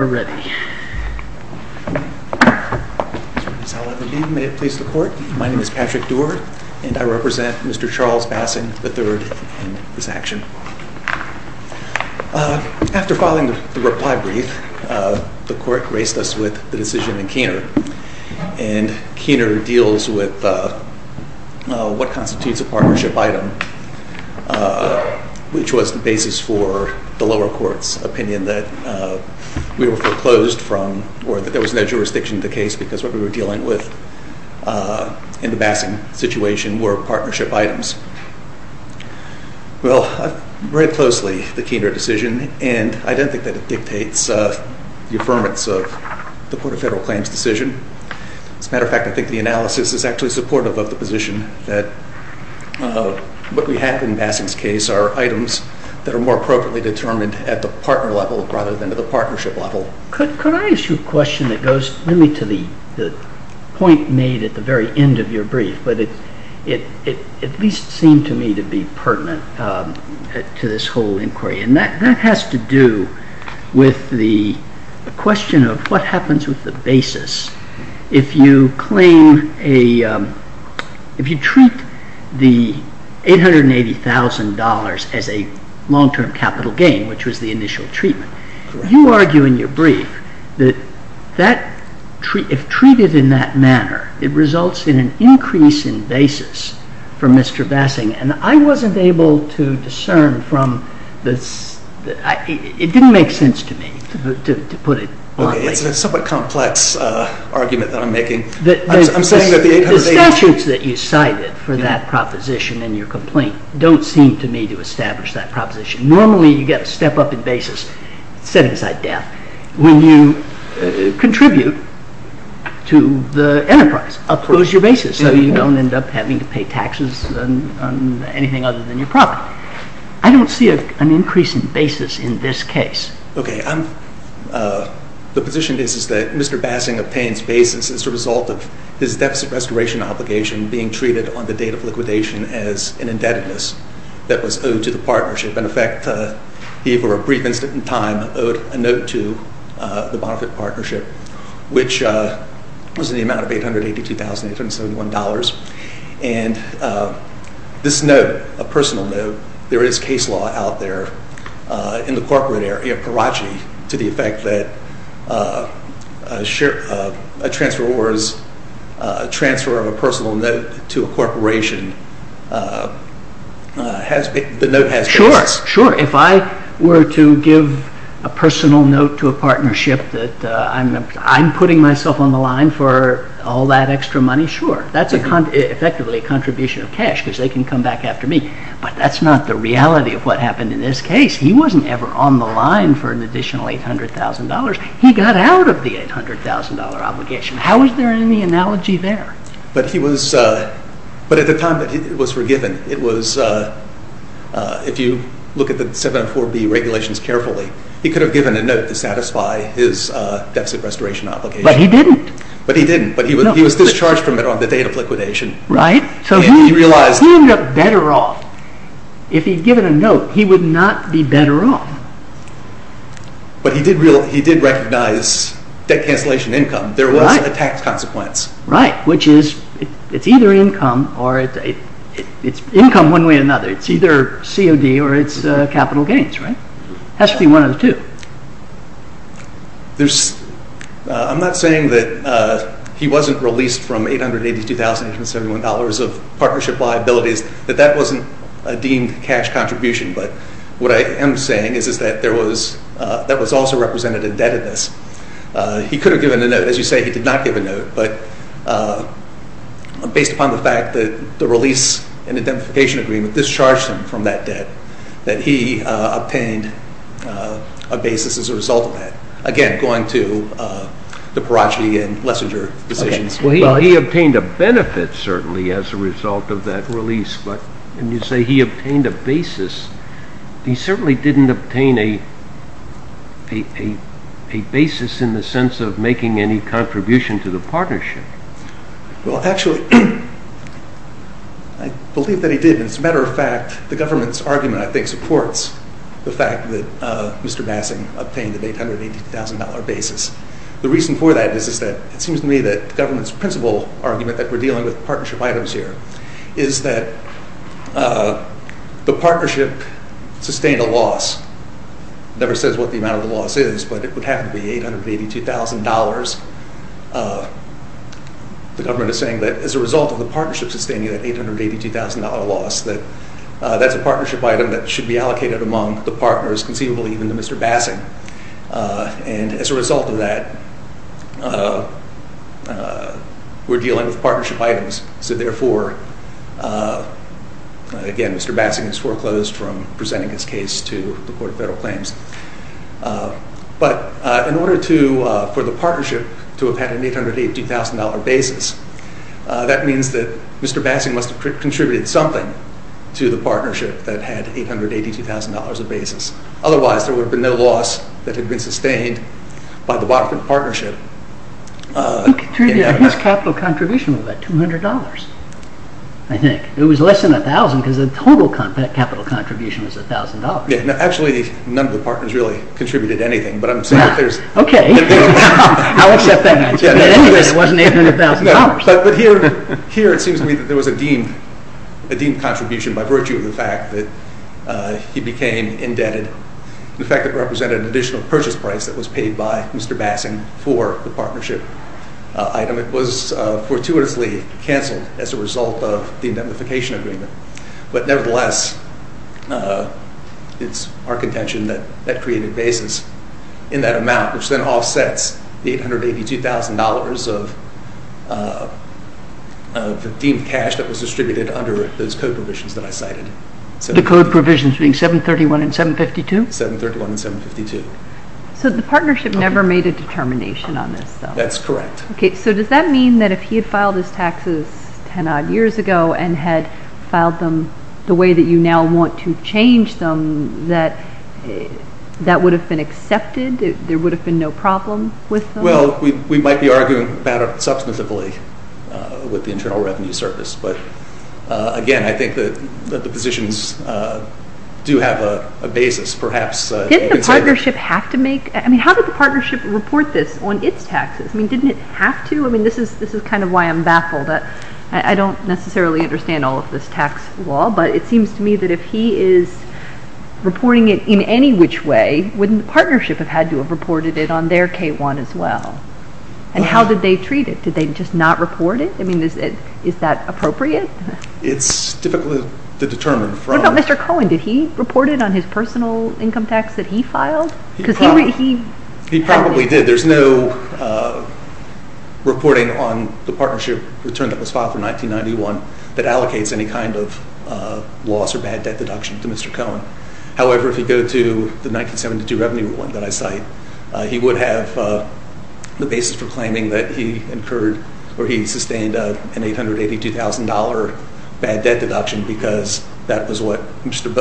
After filing the reply brief, the court graced us with the decision in Keener, and Keener deals with what constitutes a partnership item, which was the basis for the lower court's opinion that we were foreclosed from, or that there was no jurisdiction to the case, because what we were dealing with in the Bassing situation were partnership items. Well, I've read closely the Keener decision, and I don't think that it dictates the affirmance of the Court of Federal Claims' decision. As a matter of fact, I think the analysis is actually supportive of the position that what we have in Bassing's case are items that are more appropriately determined at the partner level rather than at the partnership level. Could I ask you a question that goes really to the point made at the very end of your brief, but it at least seemed to me to be pertinent to this whole inquiry, and that has to do with the question of what happens with the basis if you treat the $880,000 as a long-term capital gain, which was the initial treatment. You argue in your brief that if treated in that manner, it results in an increase in basis for Mr. Bassing, and I wasn't able to discern from this. It didn't make sense to me, to put it bluntly. Okay. It's a somewhat complex argument that I'm making. I'm saying that the $880,000— The statutes that you cited for that proposition in your complaint don't seem to me to establish that proposition. Normally, you get a step-up in basis set inside death. When you contribute to the enterprise, those are your basis, so you don't end up having to pay taxes on anything other than your property. I don't see an increase in basis in this case. Okay. The position is that Mr. Bassing obtains basis as a result of his deficit restoration obligation being treated on the date of liquidation as an indebtedness that was owed to the partnership. In effect, he, for a brief instant in time, owed a note to the Bonnefitt Partnership, which was in the amount of $882,871, and this note, a personal note— There is case law out there in the corporate area, Karachi, to the effect that a transfer of a personal note to a corporation, the note has basis. Sure, sure. If I were to give a personal note to a partnership that I'm putting myself on the line for all that extra money, sure, that's effectively a contribution of cash because they can come back after me, but that's not the reality of what happened in this case. He wasn't ever on the line for an additional $800,000. He got out of the $800,000 obligation. How is there any analogy there? But at the time that it was forgiven, if you look at the 704B regulations carefully, he could have given a note to satisfy his deficit restoration obligation. But he didn't. But he didn't. He was discharged from it on the date of liquidation. Right. So who ended up better off? If he'd given a note, he would not be better off. But he did recognize debt cancellation income. There was a tax consequence. Right, which is it's either income or it's income one way or another. It's either COD or it's capital gains, right? It has to be one of the two. I'm not saying that he wasn't released from $882,871 of partnership liabilities, that that wasn't a deemed cash contribution. But what I am saying is that that was also represented indebtedness. He could have given a note. As you say, he did not give a note. But based upon the fact that the release and identification agreement discharged him from that debt, that he obtained a basis as a result of that. Again, going to the Perotti and Lessinger decisions. Well, he obtained a benefit, certainly, as a result of that release. But when you say he obtained a basis, he certainly didn't obtain a basis in the sense of making any contribution to the partnership. Well, actually, I believe that he did. As a matter of fact, the government's argument, I think, supports the fact that Mr. Bassing obtained an $882,000 basis. The reason for that is that it seems to me that the government's principal argument that we're dealing with partnership items here is that the partnership sustained a loss. It never says what the amount of the loss is, but it would happen to be $882,000. The government is saying that as a result of the partnership sustaining that $882,000 loss, that that's a partnership item that should be allocated among the partners, conceivably even to Mr. Bassing. And as a result of that, we're dealing with partnership items. So therefore, again, Mr. Bassing is foreclosed from presenting his case to the Court of Federal Claims. But in order for the partnership to have had an $882,000 basis, that means that Mr. Bassing must have contributed something to the partnership that had $882,000 of basis. Otherwise, there would have been no loss that had been sustained by the bottom of the partnership. His capital contribution was about $200, I think. It was less than $1,000 because the total capital contribution was $1,000. Actually, none of the partners really contributed anything. Okay. I'll accept that answer. In any case, it wasn't $800,000. But here it seems to me that there was a deemed contribution by virtue of the fact that he became indebted. In fact, it represented an additional purchase price that was paid by Mr. Bassing for the partnership item. It was fortuitously canceled as a result of the indemnification agreement. But nevertheless, it's our contention that that created basis in that amount, which then offsets the $882,000 of the deemed cash that was distributed under those code provisions that I cited. The code provisions being 731 and 752? 731 and 752. The partnership never made a determination on this, though? That's correct. Does that mean that if he had filed his taxes 10-odd years ago and had filed them the way that you now want to change them, that that would have been accepted? There would have been no problem with them? Well, we might be arguing about it substantively with the Internal Revenue Service. But, again, I think that the positions do have a basis, perhaps. Didn't the partnership have to make? I mean, how did the partnership report this on its taxes? I mean, didn't it have to? I mean, this is kind of why I'm baffled. I don't necessarily understand all of this tax law, but it seems to me that if he is reporting it in any which way, wouldn't the partnership have had to have reported it on their K-1 as well? And how did they treat it? Did they just not report it? I mean, is that appropriate? It's difficult to determine. What about Mr. Cohen? Did he report it on his personal income tax that he filed? He probably did. There's no reporting on the partnership return that was filed for 1991 that allocates any kind of loss or bad debt deduction to Mr. Cohen. However, if you go to the 1972 revenue one that I cite, he would have the basis for claiming that he incurred or he sustained an $882,000 bad debt deduction because that was what Mr.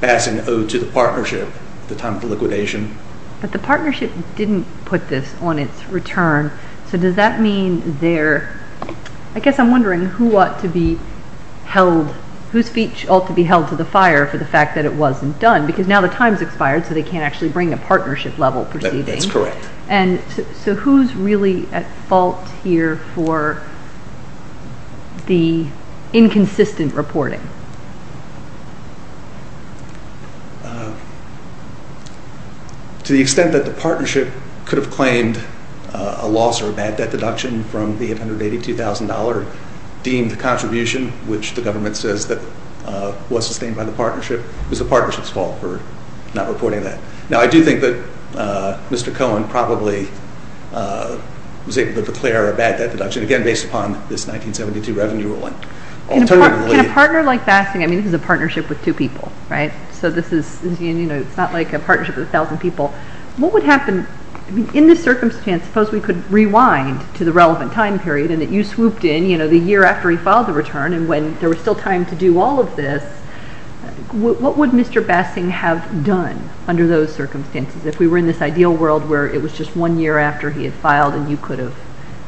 Bassan owed to the partnership at the time of the liquidation. But the partnership didn't put this on its return. So does that mean they're – I guess I'm wondering who ought to be held – the fact that it wasn't done because now the time's expired so they can't actually bring a partnership level proceeding. That's correct. And so who's really at fault here for the inconsistent reporting? To the extent that the partnership could have claimed a loss or a bad debt deduction from the $882,000 deemed contribution, which the government says that was sustained by the partnership, it was the partnership's fault for not reporting that. Now, I do think that Mr. Cohen probably was able to declare a bad debt deduction, again, based upon this 1972 revenue ruling. Can a partner like Bassan – I mean, this is a partnership with two people, right? So this is – it's not like a partnership with 1,000 people. What would happen – I mean, in this circumstance, suppose we could rewind to the relevant time period and that you swooped in the year after he filed the return and when there was still time to do all of this, what would Mr. Bassan have done under those circumstances? If we were in this ideal world where it was just one year after he had filed and you could have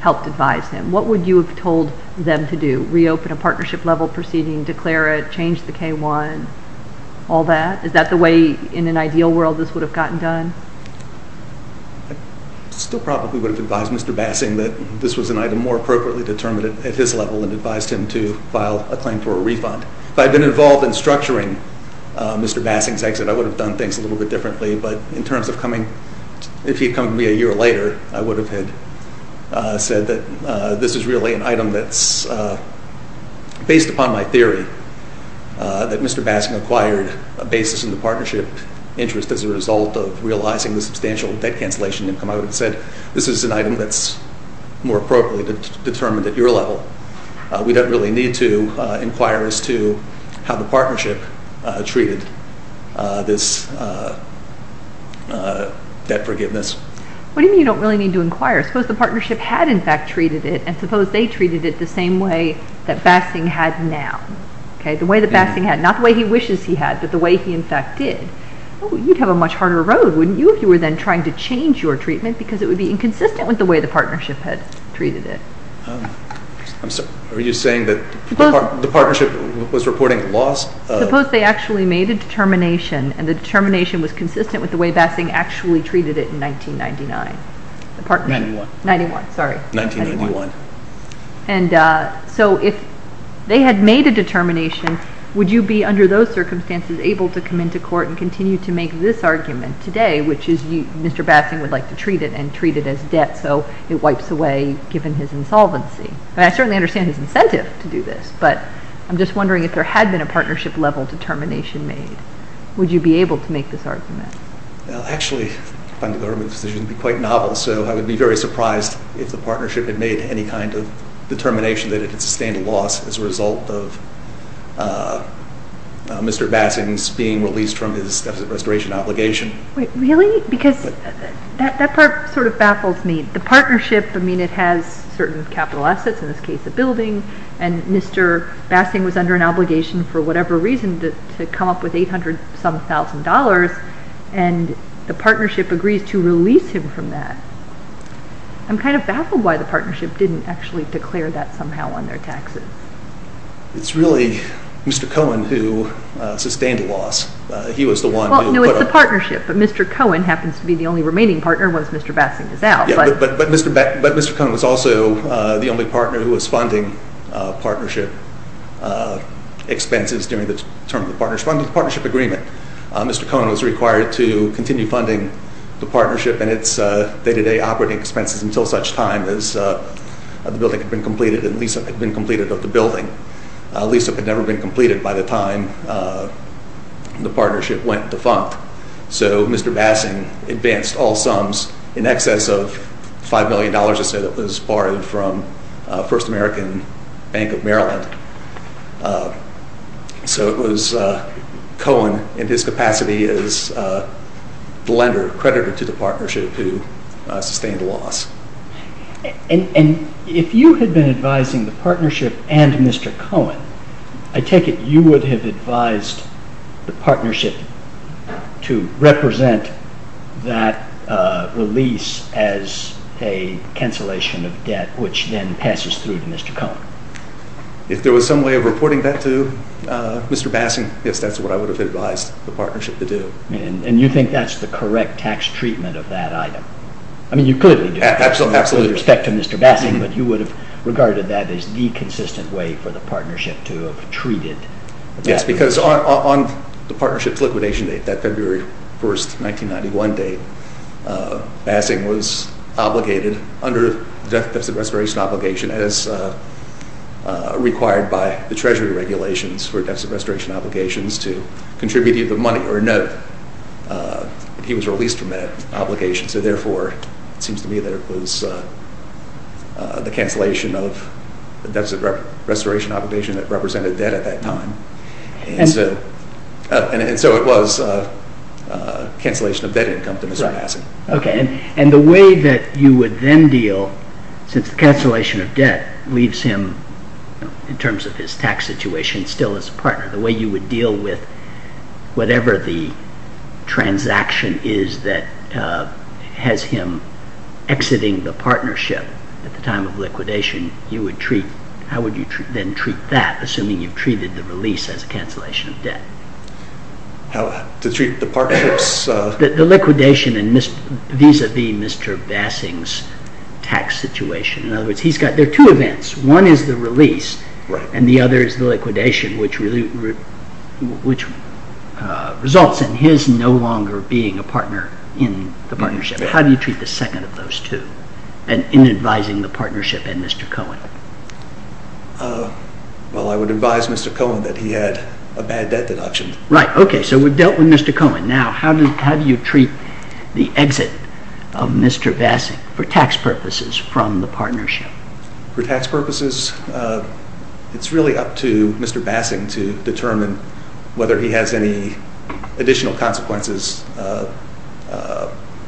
helped advise him, what would you have told them to do? Reopen a partnership level proceeding, declare it, change the K-1, all that? Is that the way in an ideal world this would have gotten done? I still probably would have advised Mr. Bassan that this was an item more appropriately determined at his level and advised him to file a claim for a refund. If I had been involved in structuring Mr. Bassan's exit, I would have done things a little bit differently. But in terms of coming – if he had come to me a year later, I would have said that this is really an item that's based upon my theory that Mr. Bassan acquired a basis in the partnership interest as a result of realizing the substantial debt cancellation income. I would have said this is an item that's more appropriately determined at your level. We don't really need to inquire as to how the partnership treated this debt forgiveness. What do you mean you don't really need to inquire? Suppose the partnership had in fact treated it and suppose they treated it the same way that Bassan had now. The way that Bassan had, not the way he wishes he had, but the way he in fact did. You'd have a much harder road, wouldn't you, if you were then trying to change your treatment because it would be inconsistent with the way the partnership had treated it. Are you saying that the partnership was reporting loss of – Suppose they actually made a determination and the determination was consistent with the way Bassan actually treated it in 1999. Ninety-one. Ninety-one, sorry. Nineteen ninety-one. And so if they had made a determination, would you be under those circumstances able to come into court and continue to make this argument today, which is Mr. Bassan would like to treat it and treat it as debt so it wipes away given his insolvency? I certainly understand his incentive to do this, but I'm just wondering if there had been a partnership level determination made. Would you be able to make this argument? Actually, I find the government's decision to be quite novel, so I would be very surprised if the partnership had made any kind of determination that it could sustain a loss as a result of Mr. Bassan's being released from his deficit restoration obligation. Wait, really? Because that part sort of baffles me. The partnership, I mean, it has certain capital assets, in this case a building, and Mr. Bassan was under an obligation for whatever reason to come up with $800-some-thousand, and the partnership agrees to release him from that. I'm kind of baffled why the partnership didn't actually declare that somehow on their taxes. It's really Mr. Cohen who sustained a loss. Well, no, it's the partnership, but Mr. Cohen happens to be the only remaining partner once Mr. Bassan is out. But Mr. Cohen was also the only partner who was funding partnership expenses during the term of the partnership agreement. Mr. Cohen was required to continue funding the partnership, and its day-to-day operating expenses, until such time as the building had been completed and lease-up had been completed of the building. Lease-up had never been completed by the time the partnership went defunct. So Mr. Bassan advanced all sums in excess of $5 million, I'd say, that was borrowed from First American Bank of Maryland. So it was Cohen, in his capacity as the lender, creditor to the partnership, who sustained a loss. And if you had been advising the partnership and Mr. Cohen, I take it you would have advised the partnership to represent that release as a cancellation of debt, which then passes through to Mr. Cohen. If there was some way of reporting that to Mr. Bassan, I guess that's what I would have advised the partnership to do. And you think that's the correct tax treatment of that item? I mean, you clearly do. Absolutely. With respect to Mr. Bassan, but you would have regarded that as the consistent way for the partnership to have treated that. Yes, because on the partnership's liquidation date, that February 1st, 1991 date, Bassan was obligated, under the Deficit Restoration Obligation, as required by the Treasury regulations for Deficit Restoration Obligations, to contribute either money or a note. He was released from that obligation, so therefore it seems to me that it was the cancellation of the Deficit Restoration Obligation that represented debt at that time. And so it was a cancellation of debt income to Mr. Bassan. Okay. And the way that you would then deal, since the cancellation of debt leaves him, in terms of his tax situation, still as a partner, the way you would deal with whatever the transaction is that has him exiting the partnership at the time of liquidation, you would treat, how would you then treat that, assuming you've treated the release as a cancellation of debt? To treat the partnership's... The liquidation vis-à-vis Mr. Bassan's tax situation. In other words, there are two events. One is the release, and the other is the liquidation, which results in his no longer being a partner in the partnership. How do you treat the second of those two in advising the partnership and Mr. Cohen? Well, I would advise Mr. Cohen that he had a bad debt deduction. Right. Okay. So we've dealt with Mr. Cohen. Now, how do you treat the exit of Mr. Bassan, for tax purposes, from the partnership? For tax purposes, it's really up to Mr. Bassan to determine whether he has any additional consequences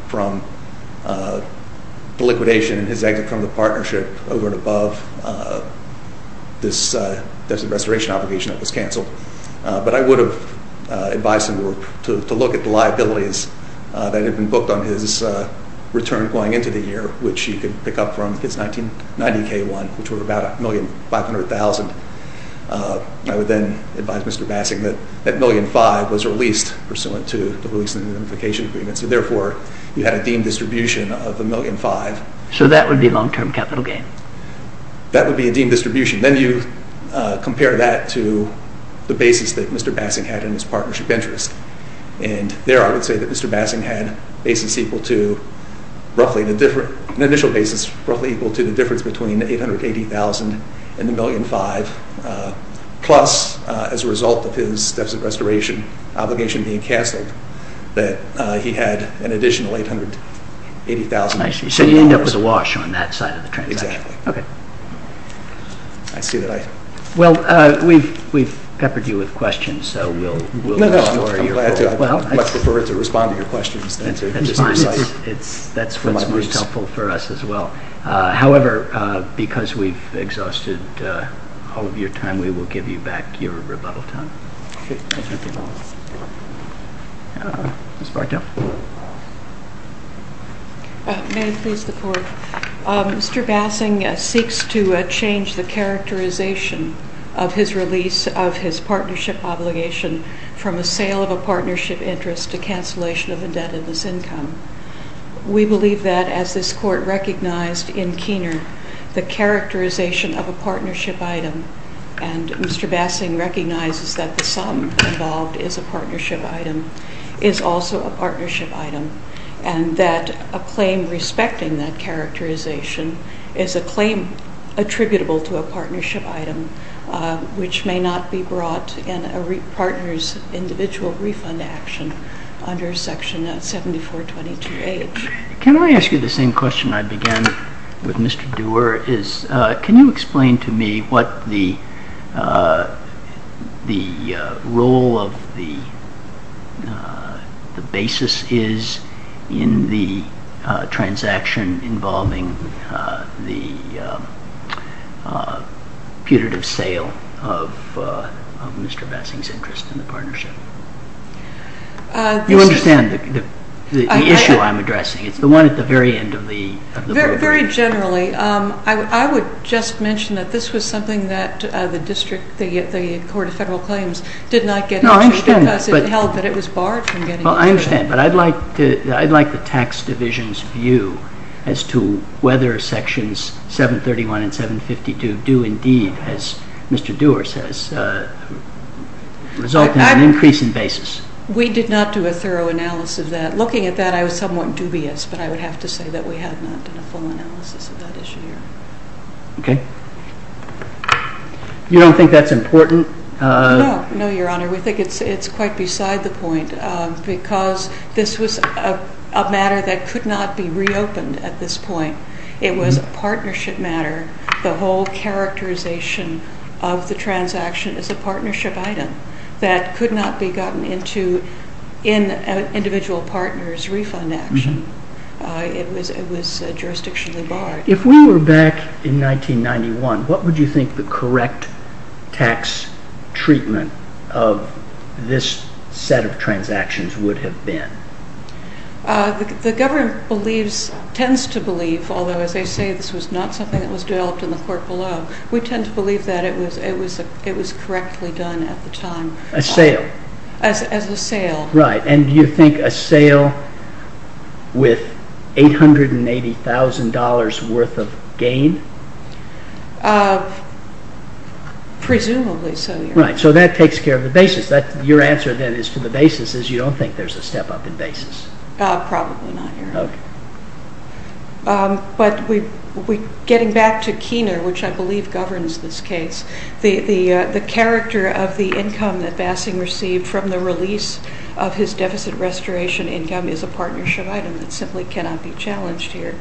from the liquidation and his exit from the partnership But I would have advised him to look at the liabilities that had been booked on his return going into the year, which you could pick up from his 1990 K-1, which were about $1,500,000. I would then advise Mr. Bassan that that $1,500,000 was released pursuant to the release and liquidation agreement. So therefore, you had a deemed distribution of $1,500,000. So that would be long-term capital gain? That would be a deemed distribution. Then you compare that to the basis that Mr. Bassan had in his partnership interest. And there, I would say that Mr. Bassan had an initial basis roughly equal to the difference between $880,000 and $1,500,000, plus, as a result of his deficit restoration obligation being canceled, that he had an additional $880,000. So you end up with a wash on that side of the transaction. Exactly. Okay. I see that I— Well, we've peppered you with questions, so we'll— No, no, I'm glad to. I'd much prefer to respond to your questions than to just recite them. That's fine. That's what's most helpful for us as well. However, because we've exhausted all of your time, we will give you back your rebuttal time. Okay. Ms. Bartow? May I please report? Mr. Bassan seeks to change the characterization of his release of his partnership obligation from a sale of a partnership interest to cancellation of indebtedness income. We believe that, as this Court recognized in Keener, the characterization of a partnership item, and Mr. Bassan recognizes that the sum involved is a partnership item, is also a partnership item, and that a claim respecting that characterization is a claim attributable to a partnership item which may not be brought in a partner's individual refund action under Section 7422H. Can I ask you the same question I began with Mr. Dewar? Can you explain to me what the role of the basis is in the transaction involving the putative sale of Mr. Bassan's interest in the partnership? You understand the issue I'm addressing. It's the one at the very end of the… Very generally. I would just mention that this was something that the District, the Court of Federal Claims did not get into because it held that it was barred from getting into it. I understand, but I'd like the Tax Division's view as to whether Sections 731 and 752 do indeed, as Mr. Dewar says, result in an increase in basis. We did not do a thorough analysis of that. Looking at that, I was somewhat dubious, but I would have to say that we have not done a full analysis of that issue here. Okay. You don't think that's important? No, no, Your Honor. We think it's quite beside the point because this was a matter that could not be reopened at this point. It was a partnership matter. The whole characterization of the transaction is a partnership item that could not be gotten into in an individual partner's refund action. It was jurisdictionally barred. If we were back in 1991, what would you think the correct tax treatment of this set of transactions would have been? The government tends to believe, although as they say this was not something that was developed in the court below, we tend to believe that it was correctly done at the time. A sale? As a sale. Right. And do you think a sale with $880,000 worth of gain? Presumably so, Your Honor. Right. So that takes care of the basis. Your answer then is to the basis is you don't think there's a step-up in basis? Probably not, Your Honor. Okay. But getting back to Keener, which I believe governs this case, the character of the income that Bassing received from the release of his deficit restoration income is a partnership item that simply cannot be challenged here.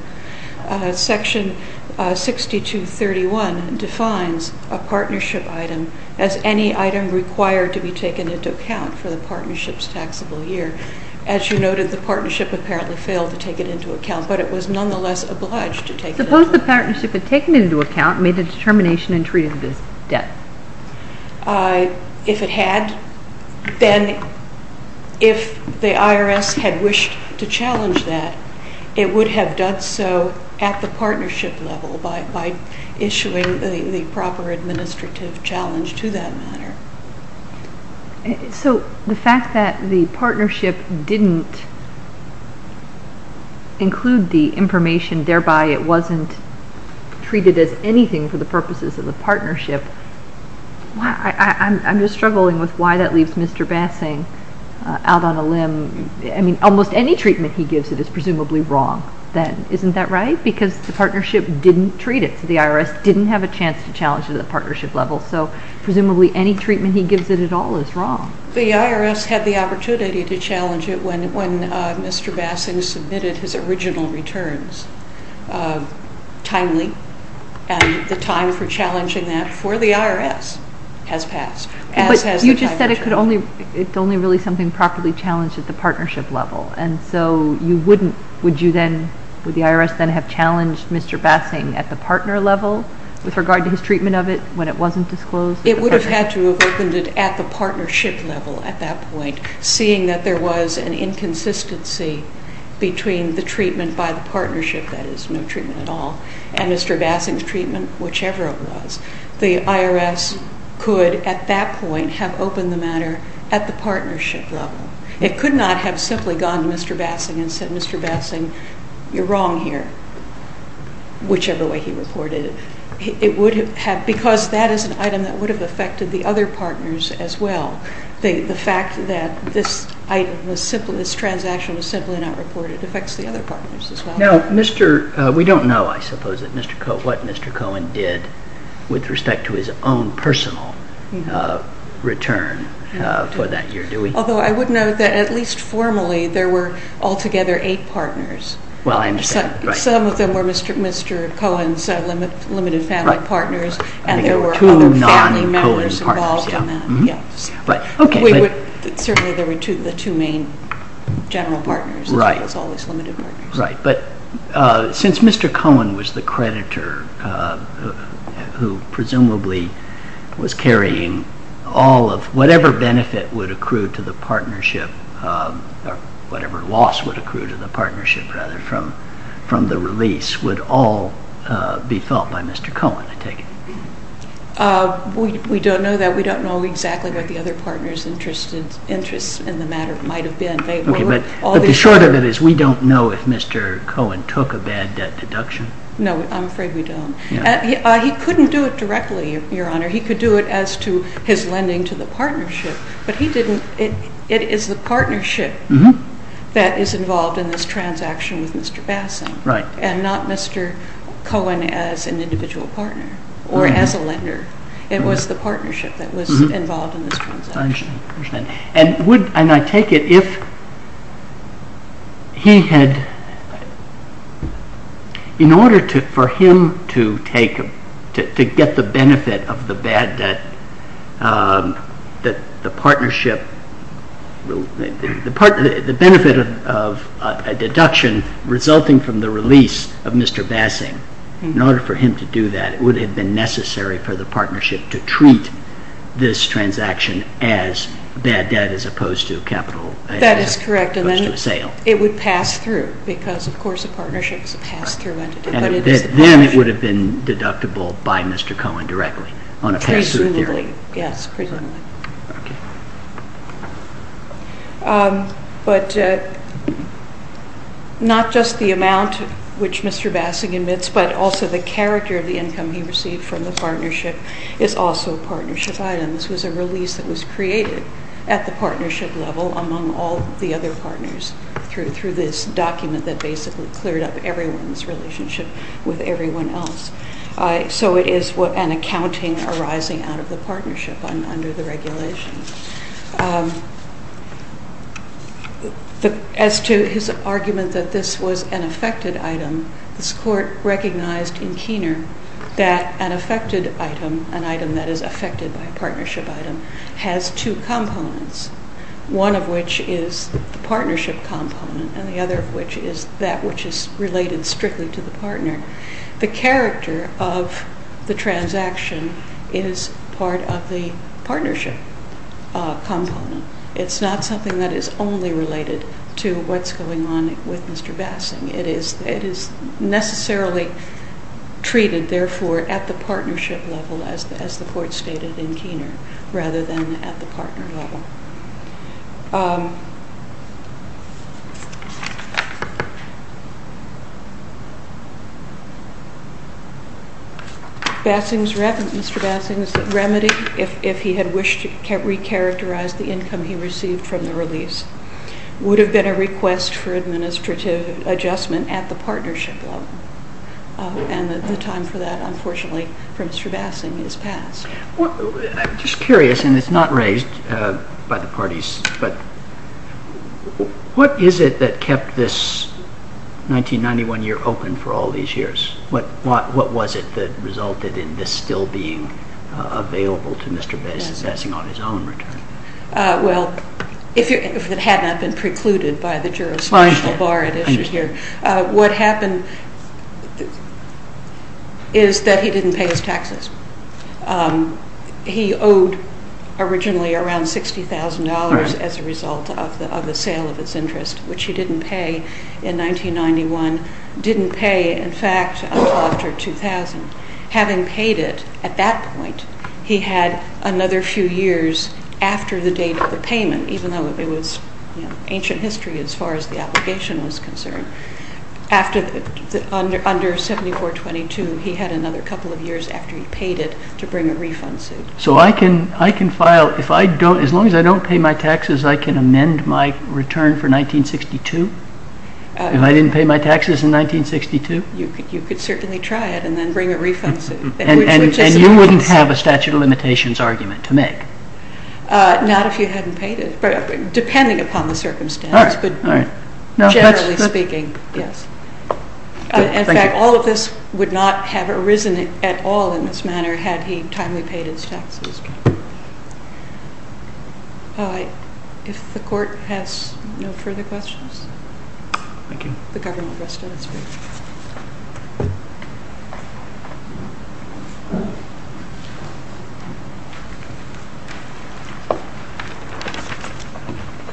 Section 6231 defines a partnership item as any item required to be taken into account for the partnership's taxable year. As you noted, the partnership apparently failed to take it into account, but it was nonetheless obliged to take it into account. Suppose the partnership had taken it into account, made a determination, and treated it as debt? If it had, then if the IRS had wished to challenge that, it would have done so at the partnership level by issuing the proper administrative challenge to that matter. So the fact that the partnership didn't include the information, thereby it wasn't treated as anything for the purposes of the partnership, I'm just struggling with why that leaves Mr. Bassing out on a limb. I mean, almost any treatment he gives it is presumably wrong then. Isn't that right? Because the partnership didn't treat it, so the IRS didn't have a chance to challenge it at the partnership level. So presumably any treatment he gives it at all is wrong. The IRS had the opportunity to challenge it when Mr. Bassing submitted his original returns timely, and the time for challenging that for the IRS has passed. But you just said it's only really something properly challenged at the partnership level, and so you wouldn't, would the IRS then have challenged Mr. Bassing at the partner level with regard to his treatment of it when it wasn't disclosed? It would have had to have opened it at the partnership level at that point, seeing that there was an inconsistency between the treatment by the partnership, that is no treatment at all, and Mr. Bassing's treatment, whichever it was. The IRS could at that point have opened the matter at the partnership level. It could not have simply gone to Mr. Bassing and said, Mr. Bassing, you're wrong here, whichever way he reported it. It would have, because that is an item that would have affected the other partners as well. The fact that this item, this transaction was simply not reported affects the other partners as well. Now, we don't know, I suppose, what Mr. Cohen did with respect to his own personal return for that year, do we? Although I would note that at least formally there were altogether eight partners. Well, I understand. Some of them were Mr. Cohen's limited family partners, and there were other family members involved in that. Two non-Cohen partners. Yes. Certainly there were the two main general partners, as well as all these limited partners. Right. But since Mr. Cohen was the creditor who presumably was carrying all of, whatever benefit would accrue to the partnership, or whatever loss would accrue to the partnership, rather, from the release, would all be felt by Mr. Cohen, I take it? We don't know that. We don't know exactly what the other partners' interests in the matter might have been. Okay, but the short of it is we don't know if Mr. Cohen took a bad debt deduction. No, I'm afraid we don't. He couldn't do it directly, Your Honor. He could do it as to his lending to the partnership, but it is the partnership that is involved in this transaction with Mr. Bassing. Right. And not Mr. Cohen as an individual partner or as a lender. It was the partnership that was involved in this transaction. I understand. And I take it if he had, in order for him to get the benefit of the bad debt, that the partnership, the benefit of a deduction resulting from the release of Mr. Bassing, in order for him to do that, it would have been necessary for the partnership to treat this transaction as bad debt as opposed to capital as opposed to a sale. That is correct, and then it would pass through because, of course, a partnership is a pass-through entity. Then it would have been deductible by Mr. Cohen directly on a pass-through theory. Presumably, yes, presumably. Okay. But not just the amount which Mr. Bassing emits, but also the character of the income he received from the partnership is also a partnership item. This was a release that was created at the partnership level among all the other partners through this document that basically cleared up everyone's relationship with everyone else. So it is an accounting arising out of the partnership under the regulation. As to his argument that this was an affected item, this court recognized in Keener that an affected item, an item that is affected by a partnership item, has two components, one of which is the partnership component, and the other of which is that which is related strictly to the partner. The character of the transaction is part of the partnership. It's not something that is only related to what's going on with Mr. Bassing. It is necessarily treated, therefore, at the partnership level, as the court stated in Keener, rather than at the partner level. Mr. Bassing's remedy, if he had wished to re-characterize the income he received from the release, would have been a request for administrative adjustment at the partnership level, and the time for that, unfortunately, for Mr. Bassing is past. I'm just curious, and it's not raised by the parties, but what is it that kept this 1991 year open for all these years? What was it that resulted in this still being available to Mr. Bassing on his own return? Well, if it had not been precluded by the jurisdictional bar at issue here, what happened is that he didn't pay his taxes. He owed originally around $60,000 as a result of the sale of his interest, which he didn't pay in 1991, didn't pay, in fact, until after 2000. Having paid it at that point, he had another few years after the date of the payment, even though it was ancient history as far as the obligation was concerned. Under 7422, he had another couple of years after he paid it to bring a refund suit. So I can file, as long as I don't pay my taxes, I can amend my return for 1962? If I didn't pay my taxes in 1962? You could certainly try it and then bring a refund suit. And you wouldn't have a statute of limitations argument to make? Not if you hadn't paid it, depending upon the circumstances, but generally speaking, yes. In fact, all of this would not have arisen at all in this manner had he timely paid his taxes. If the Court has no further questions? Thank you.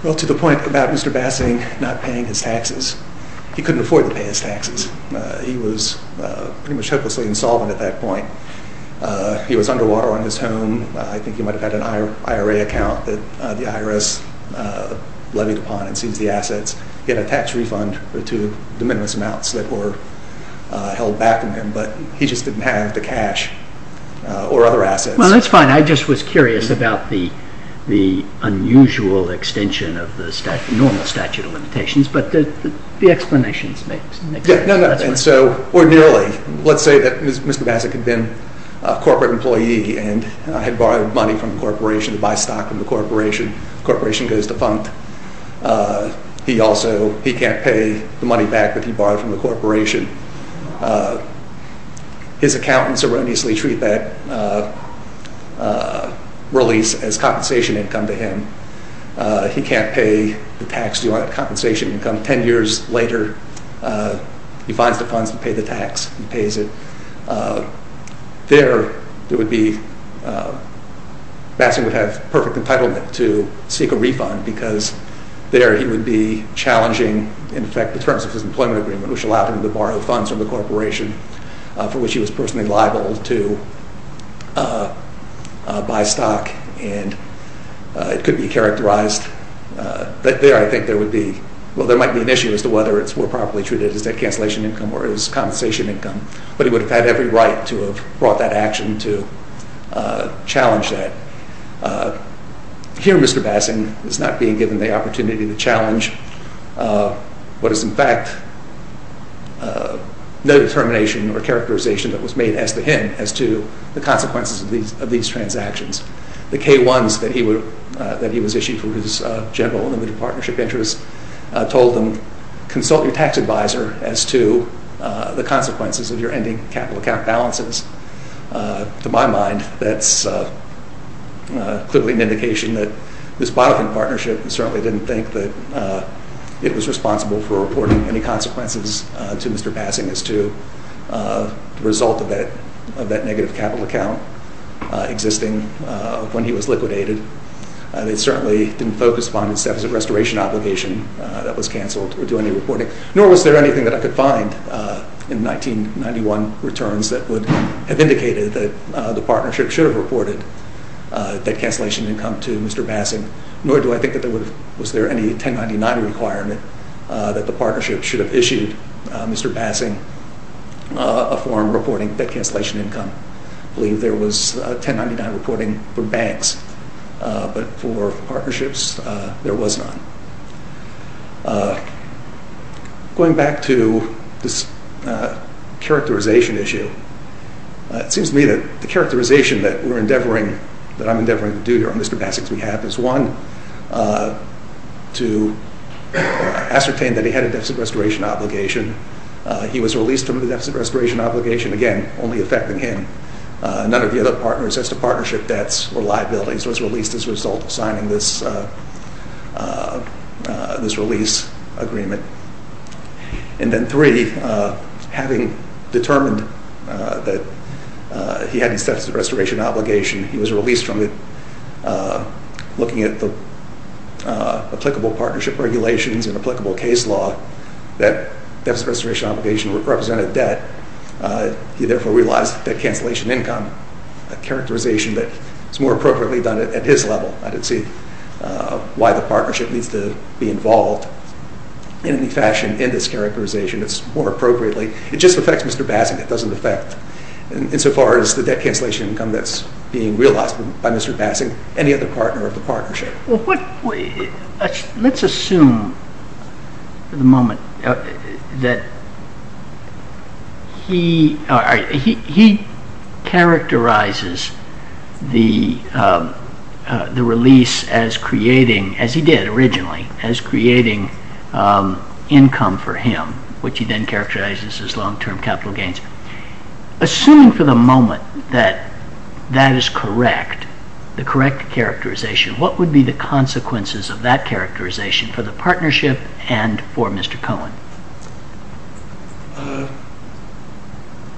Well, to the point about Mr. Bassing not paying his taxes, he couldn't afford to pay his taxes. He was pretty much hopelessly insolvent at that point. He was underwater on his home. I think he might have had an IRA account that the IRS levied upon and seized the assets. He had a tax refund to the minimum amounts that were held back from him, but he just didn't have the cash or other assets. Well, that's fine. I just was curious about the unusual extension of the normal statute of limitations, but the explanations make sense. Ordinarily, let's say that Mr. Bassing had been a corporate employee and had borrowed money from the corporation to buy stock from the corporation. The corporation goes defunct. He also can't pay the money back that he borrowed from the corporation. His accountants erroneously treat that release as compensation income to him. He can't pay the tax due on that compensation income. Ten years later, he finds the funds to pay the tax. He pays it. There, Bassing would have perfect entitlement to seek a refund because there he would be challenging, in fact, the terms of his employment agreement, which allowed him to borrow funds from the corporation for which he was personally liable to buy stock. It could be characterized. There, I think, there might be an issue as to whether it's more properly treated as debt cancellation income or as compensation income, but he would have had every right to have brought that action to challenge that. Here, Mr. Bassing is not being given the opportunity to challenge what is, in fact, no determination or characterization that was made as to him as to the consequences of these transactions. The K-1s that he was issued for his general and limited partnership interest told him, consult your tax advisor as to the consequences of your ending capital account balances. To my mind, that's clearly an indication that this Bonofin partnership certainly didn't think that it was responsible for reporting any consequences to Mr. Bassing as to the result of that negative capital account existing when he was liquidated. They certainly didn't focus upon his deficit restoration obligation that was canceled or do any reporting, nor was there anything that I could find in 1991 returns that would have indicated that the partnership should have reported debt cancellation income to Mr. Bassing, nor do I think that there was any 1099 requirement that the partnership should have issued Mr. Bassing a form reporting debt cancellation income. I believe there was 1099 reporting for banks, but for partnerships, there was none. Going back to this characterization issue, it seems to me that the characterization that I'm endeavoring to do here on Mr. Bassing's behalf is, one, to ascertain that he had a deficit restoration obligation. He was released from the deficit restoration obligation, again, only affecting him. None of the other partners as to partnership debts or liabilities was released as a result of signing this release agreement. And then three, having determined that he had a deficit restoration obligation, he was released from it looking at the applicable partnership regulations and applicable case law. That deficit restoration obligation represented debt. He, therefore, realized debt cancellation income, a characterization that is more appropriately done at his level. I don't see why the partnership needs to be involved in any fashion in this characterization. It's more appropriately. It just affects Mr. Bassing. It doesn't affect, insofar as, the debt cancellation income that's being realized by Mr. Bassing, any other partner of the partnership. Let's assume for the moment that he characterizes the release as creating, as he did originally, as creating income for him, which he then characterizes as long-term capital gains. Assuming for the moment that that is correct, the correct characterization, what would be the consequences of that characterization for the partnership and for Mr. Cohen?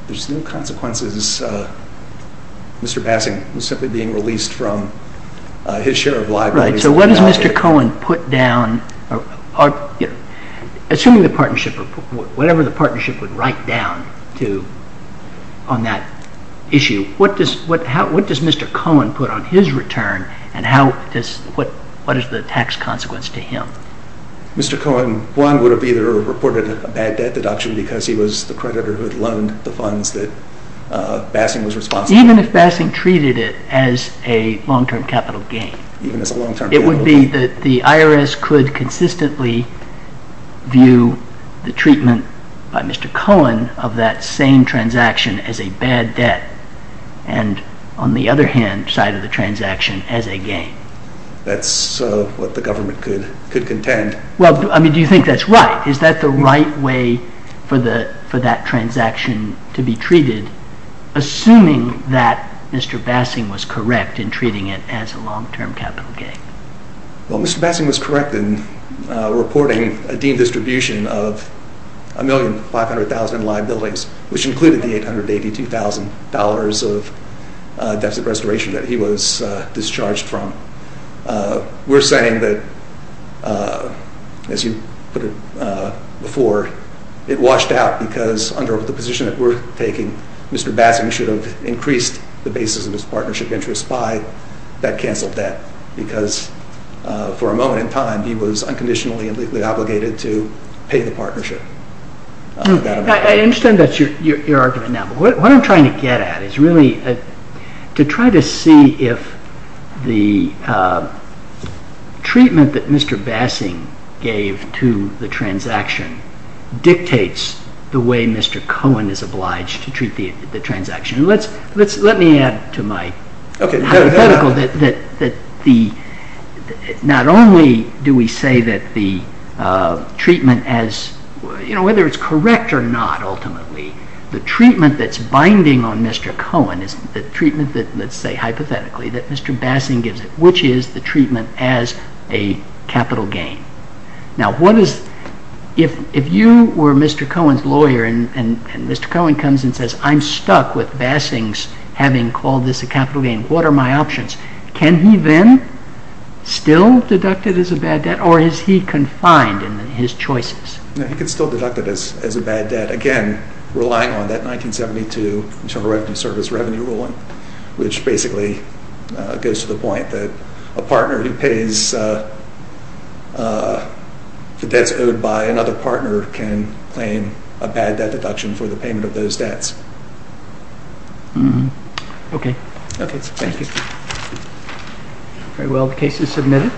There's no consequences. Mr. Bassing was simply being released from his share of liabilities. So what does Mr. Cohen put down? Assuming the partnership, whatever the partnership would write down on that issue, what does Mr. Cohen put on his return and what is the tax consequence to him? Mr. Cohen, one, would have either reported a bad debt deduction because he was the creditor who had loaned the funds that Bassing was responsible for. Even if Bassing treated it as a long-term capital gain? Even as a long-term capital gain? It would be that the IRS could consistently view the treatment by Mr. Cohen of that same transaction as a bad debt and on the other hand side of the transaction as a gain. That's what the government could contend. Well, I mean, do you think that's right? Is that the right way for that transaction to be treated? Assuming that Mr. Bassing was correct in treating it as a long-term capital gain? Well, Mr. Bassing was correct in reporting a deemed distribution of 1,500,000 liabilities, which included the $882,000 of deficit restoration that he was discharged from. We're saying that, as you put it before, it washed out because under the position that we're taking, Mr. Bassing should have increased the basis of his partnership interest by that canceled debt because for a moment in time he was unconditionally and legally obligated to pay the partnership. I understand that's your argument now. What I'm trying to get at is really to try to see if the treatment that Mr. Bassing gave to the transaction dictates the way Mr. Cohen is obliged to treat the transaction. Let me add to my hypothetical that not only do we say that the treatment, whether it's correct or not ultimately, the treatment that's binding on Mr. Cohen is the treatment that, let's say hypothetically, that Mr. Bassing gives it, which is the treatment as a capital gain. Now, if you were Mr. Cohen's lawyer and Mr. Cohen comes and says, I'm stuck with Bassing's having called this a capital gain, what are my options? Can he then still deduct it as a bad debt or is he confined in his choices? He can still deduct it as a bad debt, again, relying on that 1972 Internal Revenue Service Revenue Ruling, which basically goes to the point that a partner who pays the debts owed by another partner can claim a bad debt deduction for the payment of those debts. Okay. Thank you. Very well. The case is submitted.